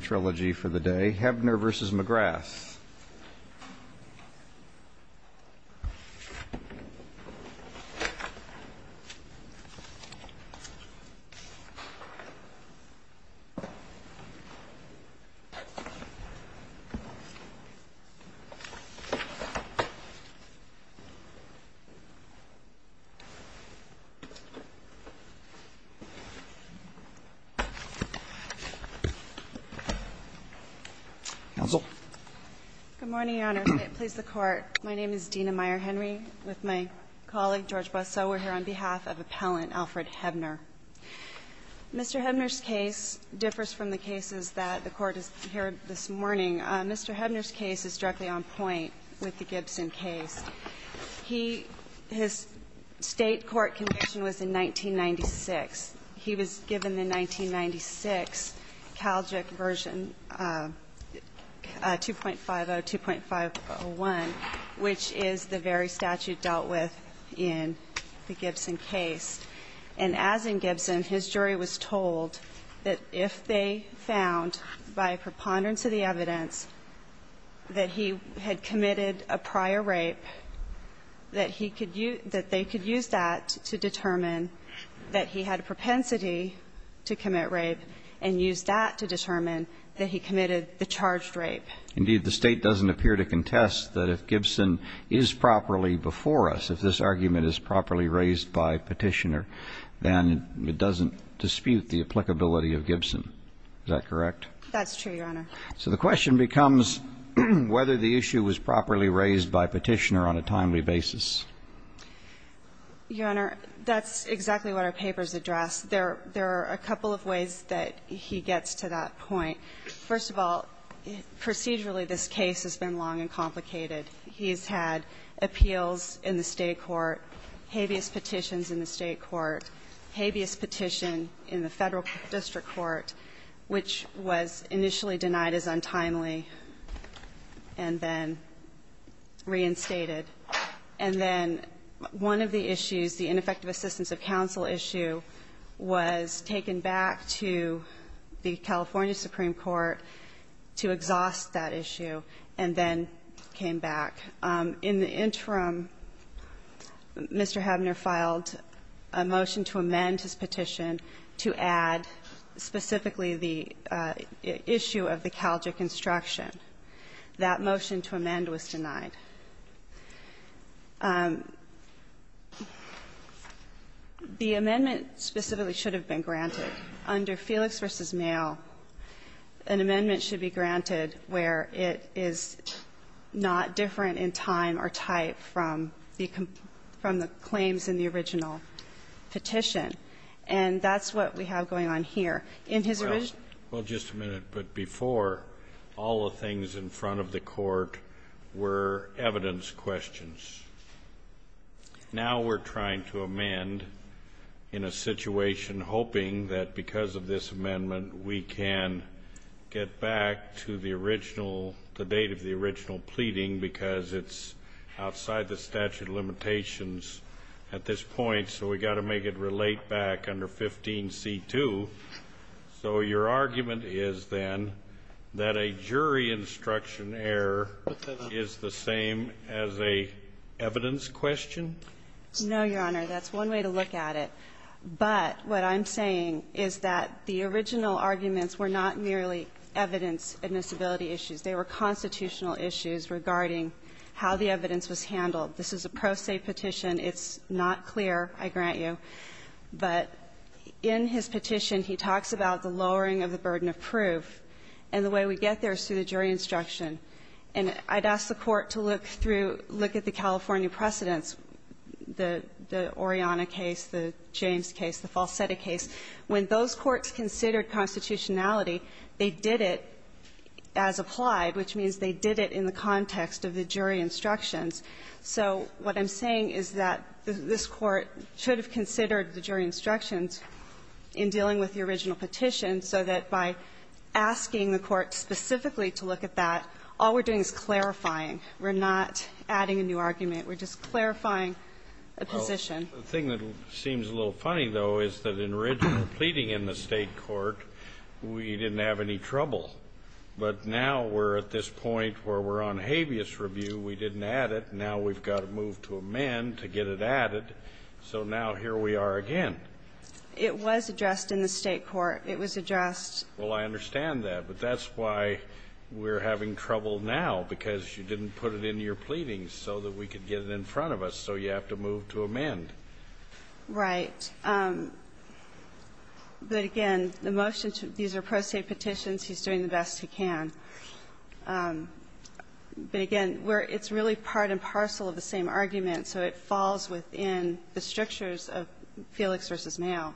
trilogy for the day. Hebner v. McGrath Good morning, Your Honor. May it please the Court, my name is Dena Meyer-Henry with my colleague George Boisseau. We're here on behalf of appellant Alfred Hebner. Mr. Hebner's case differs from the cases that the Court has heard this morning. Mr. Hebner's case is directly on point with the Gibson case. He his state court conviction was in 1996. He was given the 1996 Calgic version 2.50, 2.501, which is the very statute dealt with in the Gibson case. And as in Gibson, his jury was told that if they found by a preponderance of the evidence that he had committed a prior rape, that they could use that to determine that he had a propensity to commit rape and use that to determine that he committed the charged rape. Indeed, the State doesn't appear to contest that if Gibson is properly before us, if this argument is properly raised by Petitioner, then it doesn't dispute the applicability of Gibson. Is that correct? That's true, Your Honor. So the question becomes whether the issue was properly raised by Petitioner on a timely basis. Your Honor, that's exactly what our papers address. There are a couple of ways that he gets to that point. First of all, procedurally this case has been long and complicated. He's had appeals in the State court, habeas petitions in the State court, habeas petition in the Federal district court, which was initially denied as untimely and then reinstated. And then one of the issues, the ineffective assistance of counsel issue, was taken back to the California Supreme Court to exhaust that issue and then came back. And in the interim, Mr. Habener filed a motion to amend his petition to add specifically the issue of the Calgic instruction. That motion to amend was denied. The amendment specifically should have been granted. Under Felix v. Mayo, an amendment should be granted where it is not different in time or type from the claims in the original petition. And that's what we have going on here. In his original ---- Well, just a minute. But before, all the things in front of the Court were evidence questions. Now we're trying to amend in a situation hoping that because of this amendment we can get back to the original, the date of the original pleading, because it's outside the statute of limitations at this point, so we've got to make it relate back under 15c2. So your argument is, then, that a jury instruction error is the same as an evidence question? No, Your Honor. That's one way to look at it. But what I'm saying is that the original arguments were not merely evidence admissibility issues. They were constitutional issues regarding how the evidence was handled. This is a pro se petition. It's not clear, I grant you. But in his petition, he talks about the lowering of the burden of proof. And the way we get there is through the jury instruction. And I'd ask the Court to look through, look at the California precedents, the Oriana case, the James case, the Falsetti case. When those courts considered constitutionality, they did it as applied, which means they did it in the context of the jury instructions. So what I'm saying is that this Court should have considered the jury instructions in dealing with the original petition so that by asking the Court specifically to look at that, all we're doing is clarifying. We're not adding a new argument. We're just clarifying a position. The thing that seems a little funny, though, is that in original pleading in the State court, we didn't have any trouble. But now we're at this point where we're on habeas review. We didn't add it. Now we've got to move to amend to get it added. So now here we are again. It was addressed in the State court. It was addressed. Well, I understand that. But that's why we're having trouble now, because you didn't put it in your pleadings so that we could get it in front of us. So you have to move to amend. Right. But again, the motion to these are pro se petitions. He's doing the best he can. But again, it's really part and parcel of the same argument, so it falls within the strictures of Felix v. Mayo.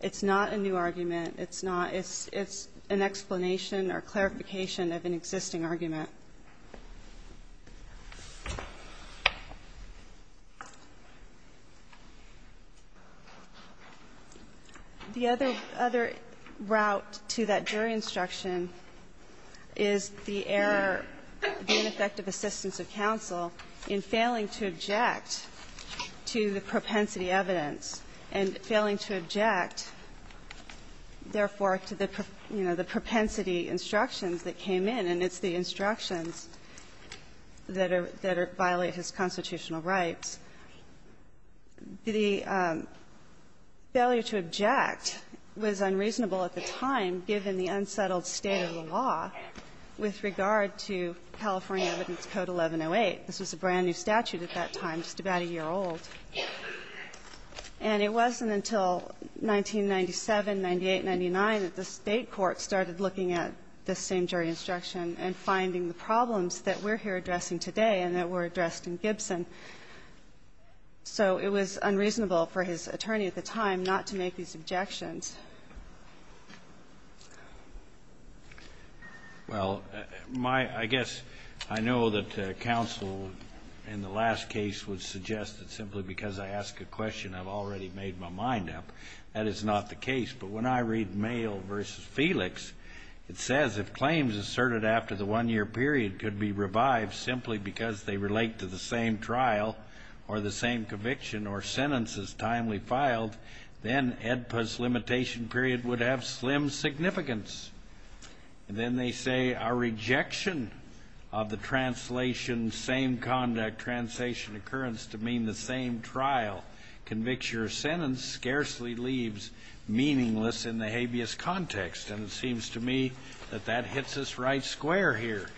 It's not a new argument. It's not. It's an explanation or clarification of an existing argument. And I think it's important to note that the failure to object to the propensity instruction is the error, the ineffective assistance of counsel in failing to object to the propensity evidence and failing to object, therefore, to the, you know, the propensity instructions that came in, and it's the instructions that are violate his constitutional rights. The failure to object was unreasonable at the time, given the unsettled state of the law with regard to California Evidence Code 1108. This was a brand-new statute at that time, just about a year old. And it wasn't until 1997, 98, 99, that the State court started looking at this same jury instruction and finding the problems that we're here addressing today and that were addressed in Gibson. So it was unreasonable for his attorney at the time not to make these objections. Well, my ‑‑ I guess I know that counsel in the last case would suggest that simply because I ask a question, I've already made my mind up. That is not the case. But when I read Mayo v. Felix, it says, if claims asserted after the one-year period could be revived simply because they relate to the same trial or the same conviction or sentence as timely filed, then AEDPA's limitation period would have slim significance. Then they say our rejection of the translation, same conduct, translation occurrence to mean the same trial, conviction, or sentence scarcely leaves meaningless in the habeas context. And it seems to me that that hits us right square here.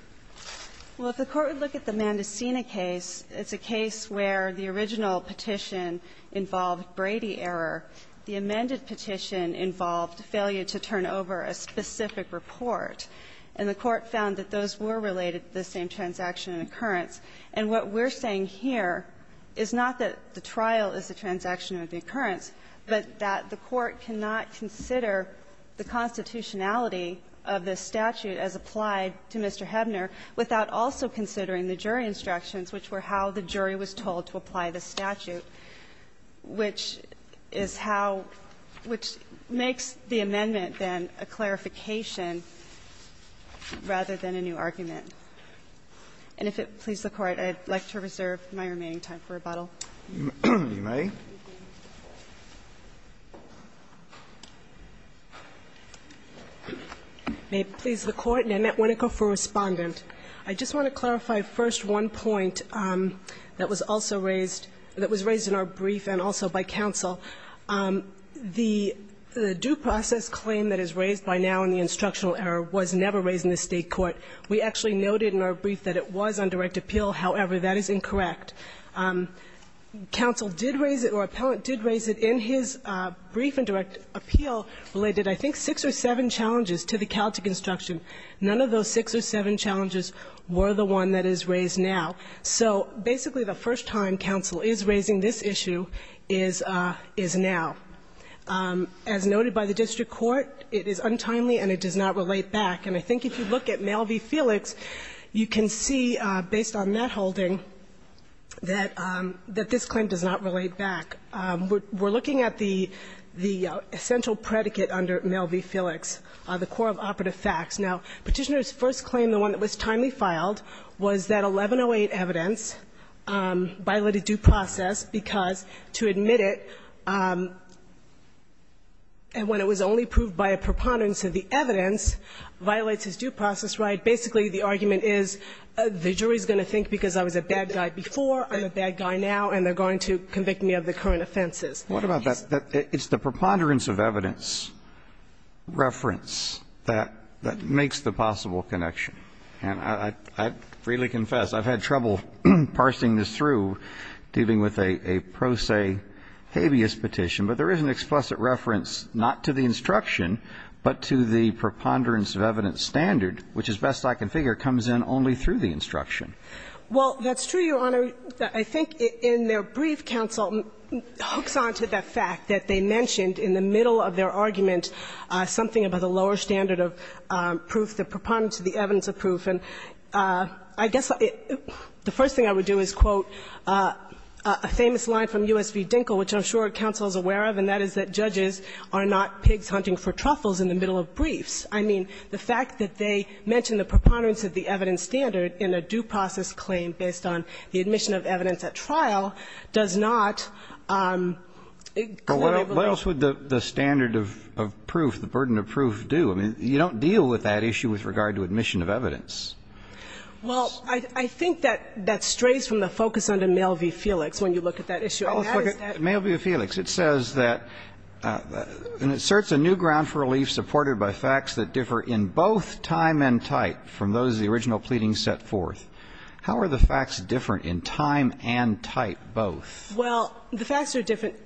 Well, if the Court would look at the Mandicina case, it's a case where the original petition involved Brady error. The amended petition involved failure to turn over a specific report. And the Court found that those were related to the same transaction occurrence. And what we're saying here is not that the trial is a transaction of the occurrence, but that the Court cannot consider the constitutionality of this statute as applied to Mr. Hebner without also considering the jury instructions, which were how the jury was told to apply the statute, which is how — which makes the amendment, then, a clarification rather than a new argument. And if it pleases the Court, I'd like to reserve my remaining time for rebuttal. You may. May it please the Court. Nanette Winneko for Respondent. I just want to clarify first one point that was also raised — that was raised in our brief and also by counsel. The due process claim that is raised by now in the instructional error was never raised in the State court. We actually noted in our brief that it was on direct appeal. However, that is incorrect. Counsel did raise it, or appellant did raise it in his brief and direct appeal related, I think, six or seven challenges to the Caltic instruction. None of those six or seven challenges were the one that is raised now. So basically the first time counsel is raising this issue is now. As noted by the district court, it is untimely and it does not relate back. And I think if you look at Mail v. Felix, you can see, based on that holding, that this claim does not relate back. We're looking at the essential predicate under Mail v. Felix, the core of operative facts. Now, Petitioner's first claim, the one that was timely filed, was that 1108 evidence violated due process because to admit it when it was only proved by a preponderance of the evidence violates his due process right. Basically, the argument is the jury is going to think because I was a bad guy before, I'm a bad guy now, and they're going to convict me of the current offenses. What about that? It's the preponderance of evidence reference that makes the possible connection. And I freely confess I've had trouble parsing this through, dealing with a pro se habeas petition, but there is an explicit reference not to the instruction, but to the preponderance of evidence standard, which, as best I can figure, comes in only through the instruction. Well, that's true, Your Honor. I think in their brief, counsel hooks on to the fact that they mentioned in the middle of their argument something about the lower standard of proof, the preponderance of the evidence of proof. And I guess the first thing I would do is quote a famous line from U.S. v. Dinkle, which I'm sure counsel is aware of, and that is that judges are not pigs hunting for truffles in the middle of briefs. I mean, the fact that they mention the preponderance of the evidence standard in a due process claim based on the admission of evidence at trial does not clear my beliefs. But what else would the standard of proof, the burden of proof do? I mean, you don't deal with that issue with regard to admission of evidence. Well, I think that that strays from the focus under Mail v. Felix when you look at that issue. Well, let's look at Mail v. Felix. It says that it certs a new ground for relief supported by facts that differ in both time and type from those of the original pleadings set forth. How are the facts different in time and type both? Well, the facts are different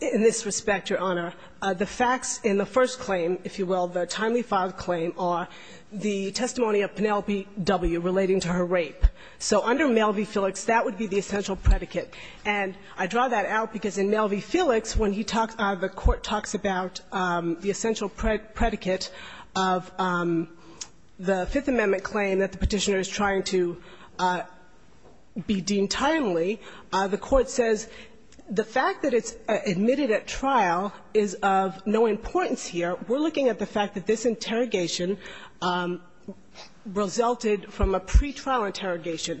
in this respect, Your Honor. The facts in the first claim, if you will, the timely filed claim, are the testimony of Penelope W. relating to her rape. So under Mail v. Felix, that would be the essential predicate. And I draw that out because in Mail v. Felix, when he talks the Court talks about the essential predicate of the Fifth Amendment claim that the Petitioner is trying to be deemed timely, the Court says the fact that it's admitted at trial is of no importance here. We're looking at the fact that this interrogation resulted from a pretrial interrogation.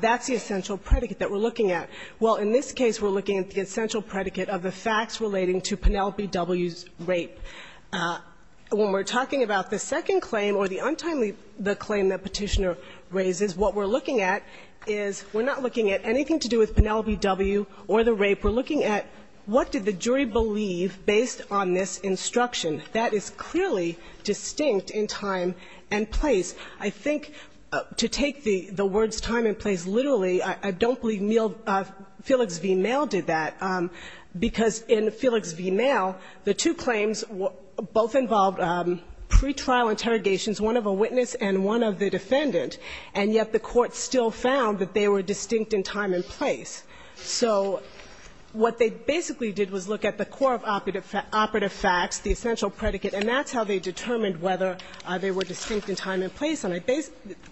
That's the essential predicate that we're looking at. Well, in this case, we're looking at the essential predicate of the facts relating to Penelope W.'s rape. When we're talking about the second claim or the untimely claim that Petitioner raises, what we're looking at is we're not looking at anything to do with Penelope W. or the rape. We're looking at what did the jury believe based on this instruction. That is clearly distinct in time and place. I think to take the words time and place literally, I don't believe Felix v. Mail did that, because in Felix v. Mail, the two claims both involved pretrial interrogations, one of a witness and one of the defendant, and yet the Court still found that they were distinct in time and place. So what they basically did was look at the core of operative facts, the essential predicate, and that's how they determined whether they were distinct in time and place. And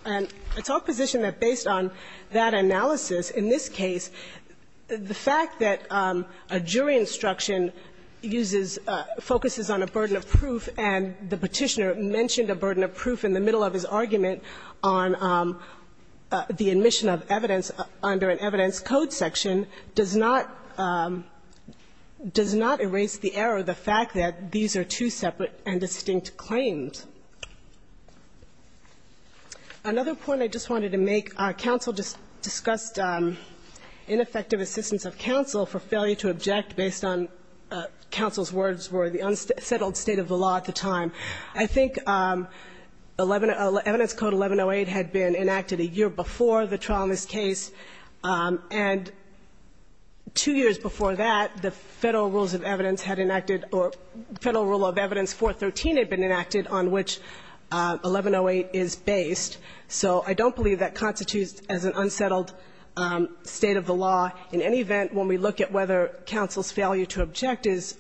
I talk position that based on that analysis, in this case, the fact that a jury instruction uses or focuses on a burden of proof and the Petitioner mentioned a burden of proof in the middle of his argument on the admission of evidence under an evidence code section does not erase the error, the fact that these are two separate and distinct claims. Another point I just wanted to make, our counsel just discussed ineffective assistance of counsel for failure to object based on counsel's words were the unsettled state of the law at the time. I think 11 of the evidence code 1108 had been enacted a year before the trial in this case, and two years before that, the Federal Rules of Evidence had enacted or Federal Rule of Evidence 413 had been enacted on which 1108 is based. So I don't believe that constitutes as an unsettled state of the law. In any event, when we look at whether counsel's failure to object is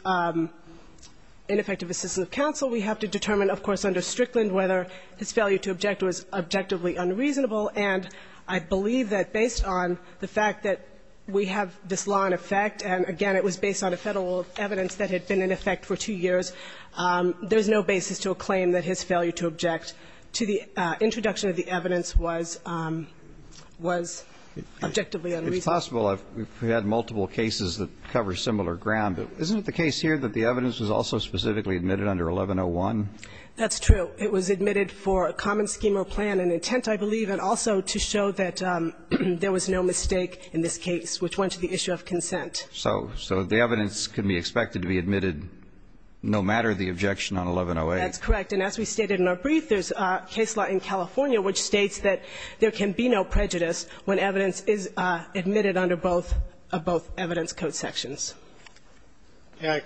ineffective assistance of counsel, we have to determine, of course, under Strickland whether his failure to object was objectively unreasonable. And I believe that based on the fact that we have this law in effect, and again, it was based on a Federal Rule of Evidence that had been in effect for two years, there's no basis to a claim that his failure to object to the introduction of the evidence was objectively unreasonable. It's possible we've had multiple cases that cover similar ground, but isn't it the case here that the evidence was also specifically admitted under 1101? That's true. It was admitted for a common scheme or plan and intent, I believe, and also to show that there was no mistake in this case, which went to the issue of consent. So the evidence can be expected to be admitted no matter the objection on 1108. That's correct. And as we stated in our brief, there's a case law in California which states that there can be no prejudice when evidence is admitted under both evidence code sections.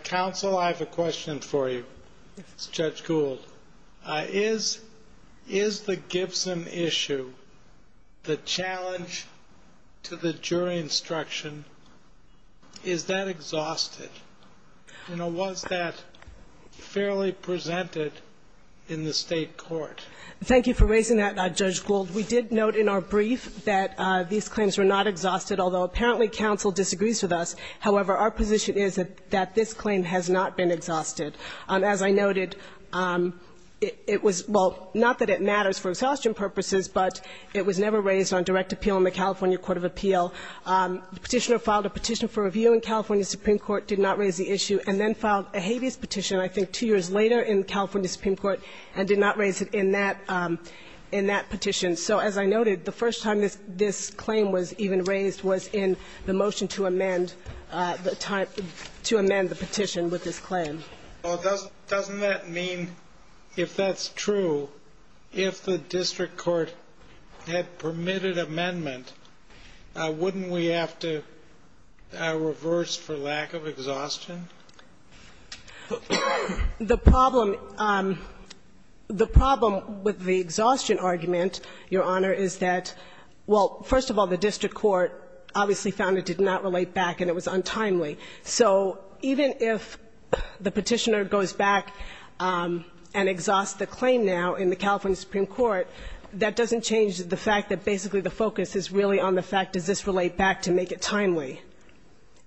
Counsel, I have a question for you. It's Judge Gould. Is the Gibson issue the challenge to the jury instruction? Is that exhausted? You know, was that fairly presented in the State court? Thank you for raising that, Judge Gould. We did note in our brief that these claims were not exhausted, although apparently counsel disagrees with us. However, our position is that this claim has not been exhausted. As I noted, it was – well, not that it matters for exhaustion purposes, but it was never raised on direct appeal in the California Court of Appeal. The petitioner filed a petition for review in California Supreme Court, did not raise the issue, and then filed a habeas petition, I think two years later, in California Supreme Court, and did not raise it in that – in that petition. So as I noted, the first time this claim was even raised was in the motion to amend the time – to amend the petition with this claim. Well, doesn't that mean, if that's true, if the district court had permitted amendment, wouldn't we have to reverse for lack of exhaustion? The problem – the problem with the exhaustion argument, Your Honor, is that, well, first of all, the district court obviously found it did not relate back and it was untimely. So even if the petitioner goes back and exhausts the claim now in the California Supreme Court, that doesn't change the fact that basically the focus is really on the fact, does this relate back to make it timely?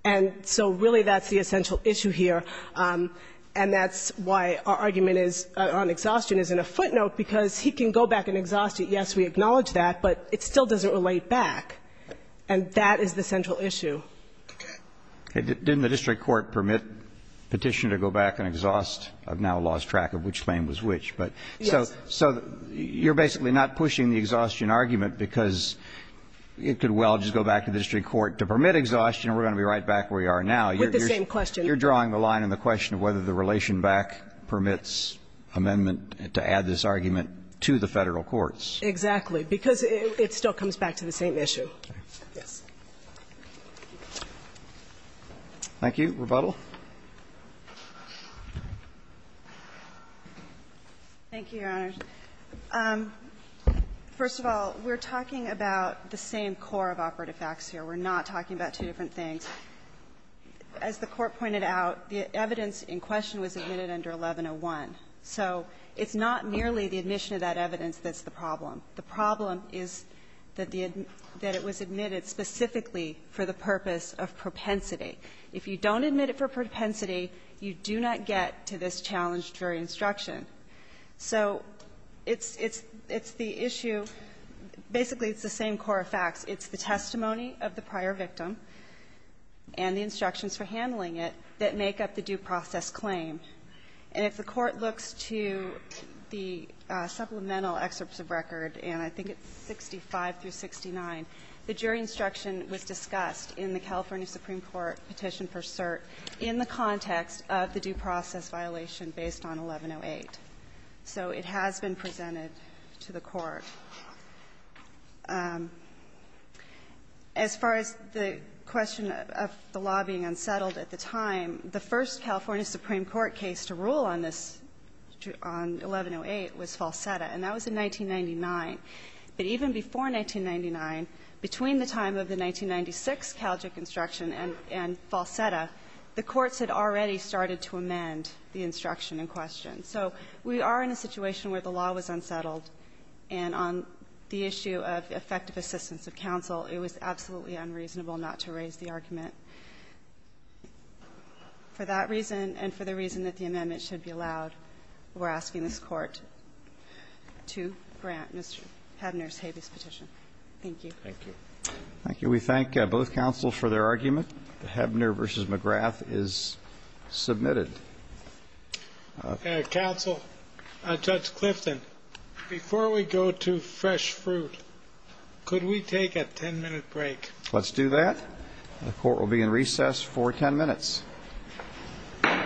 And so really that's the essential issue here, and that's why our argument is on exhaustion is in a footnote, because he can go back and exhaust it. Yes, we acknowledge that, but it still doesn't relate back, and that is the central issue. Didn't the district court permit the petitioner to go back and exhaust? I've now lost track of which claim was which, but so you're basically not pushing the exhaustion argument because it could well just go back to the district court to permit exhaustion, and we're going to be right back where we are now. With the same question. You're drawing the line in the question of whether the relation back permits amendment to add this argument to the Federal courts. Exactly, because it still comes back to the same issue. Thank you. Roberts, do you have any rebuttal? Thank you, Your Honors. First of all, we're talking about the same core of operative facts here. We're not talking about two different things. As the Court pointed out, the evidence in question was admitted under 1101. So it's not merely the admission of that evidence that's the problem. The problem is that the admission, that it was admitted specifically for the purpose of propensity. If you don't admit it for propensity, you do not get to this challenge jury instruction. So it's the issue, basically it's the same core of facts. It's the testimony of the prior victim and the instructions for handling it that make up the due process claim. And if the Court looks to the supplemental excerpts of record, and I think it's 65 through 69, the jury instruction was discussed in the California Supreme Court petition for cert in the context of the due process violation based on 1108. So it has been presented to the Court. As far as the question of the law being unsettled at the time, the first California Supreme Court case to rule on this, on 1108, was Falsetta, and that was in 1999. But even before 1999, between the time of the 1996 Calgic instruction and Falsetta, the courts had already started to amend the instruction in question. So we are in a situation where the law was unsettled, and on the issue of effective assistance of counsel, it was absolutely unreasonable not to raise the argument. For that reason and for the reason that the amendment should be allowed, we're Mr. Hebner's habeas petition. Thank you. Thank you. Thank you. We thank both counsel for their argument. Hebner v. McGrath is submitted. Counsel, Judge Clifton, before we go to fresh fruit, could we take a 10-minute break? Let's do that. The Court will be in recess for 10 minutes. All rise.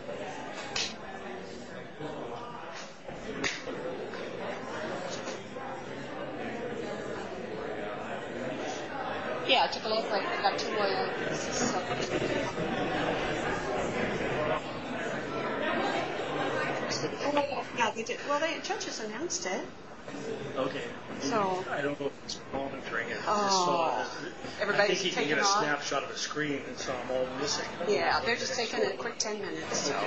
I'm sorry. There's a question. Okay. It was previous. Okay. Can we go back to our back? All rise. Okay. Can we go back to our back? Okay. Two long ones now. Two long ones. Okay. All rise. All rise. All rise. All rise. Well, the judge has announced it. Okay. So... I don't know if he's monitoring it. I think he can get a snapshot of the screen, so I'm all missing. Yeah, they're just taking a quick ten minutes, so... I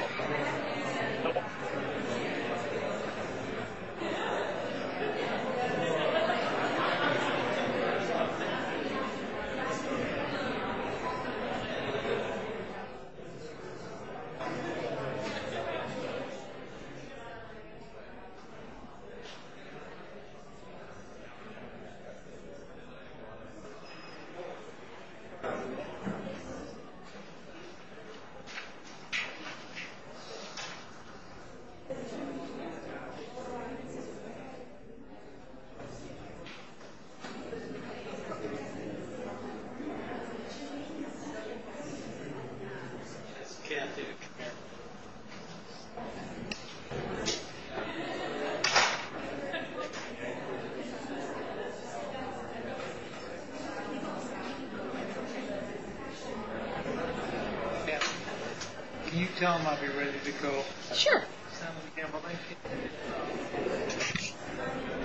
can't do it. Can you tell him I'll be ready to go? Sure.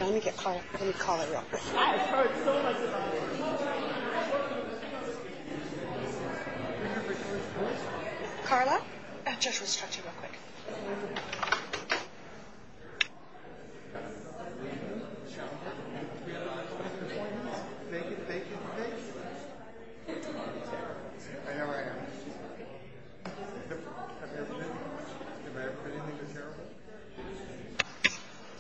I'm going to get Carla.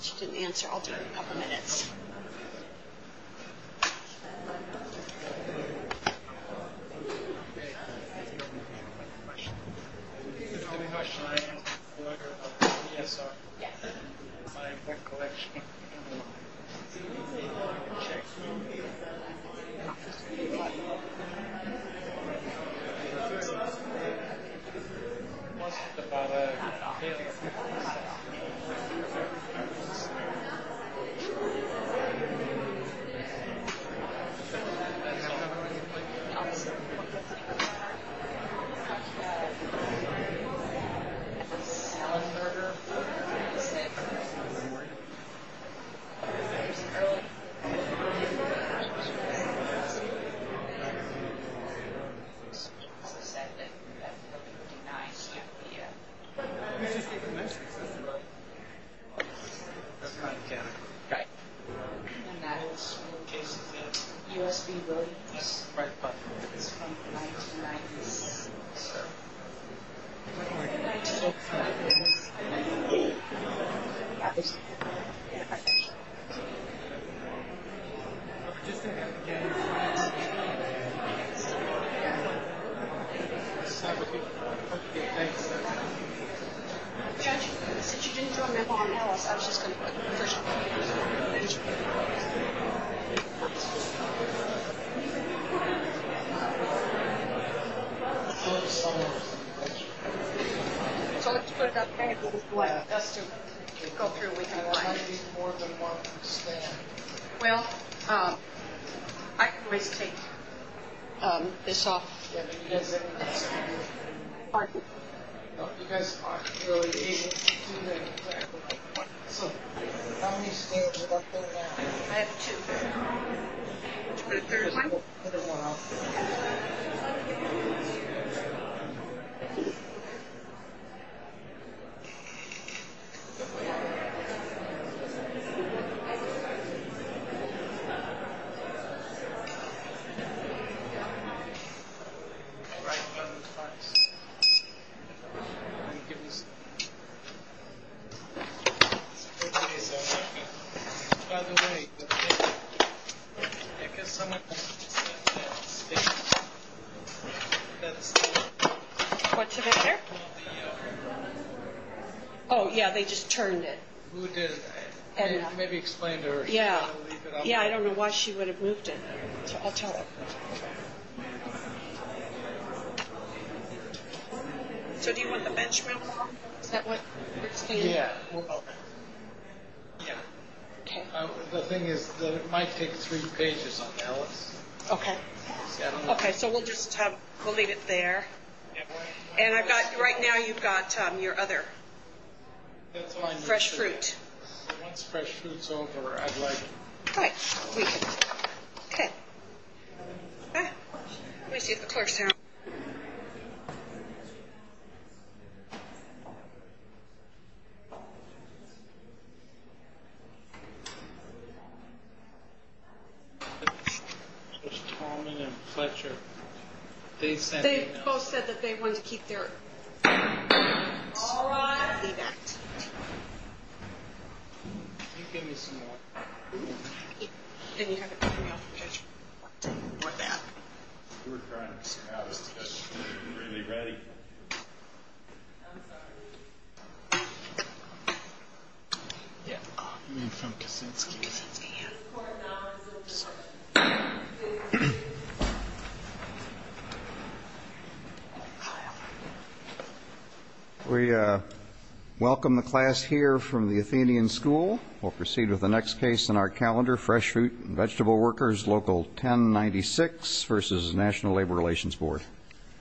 She didn't answer, I'll give her a couple of minutes. Okay. All right. All right. All right. What's the matter? Oh, yeah, they just turned it. Who did? Maybe explain to her. Yeah. Yeah, I don't know why she would have moved it. I'll tell her. So do you want the benchmark? Is that what... Yeah. Okay. Yeah. Okay. The thing is that it might take three pages on Alice. Okay. Okay, so we'll just have... We'll leave it there. And I've got... Right now you've got your other... Fresh fruit. Once fresh fruit's over, I'd like... Right. Okay. Let me see if the clerk's here. There's Talman and Fletcher. They said... They both said that they wanted to keep their... All right. Can you give me some water? And you have a... Or that. We're trying to... Really ready. I'm sorry. Yeah. We welcome the class here from the Athenian School. We'll proceed with the next case in our calendar, Fresh Fruit and Vegetable Workers, Local 1096, versus National Labor Relations Board.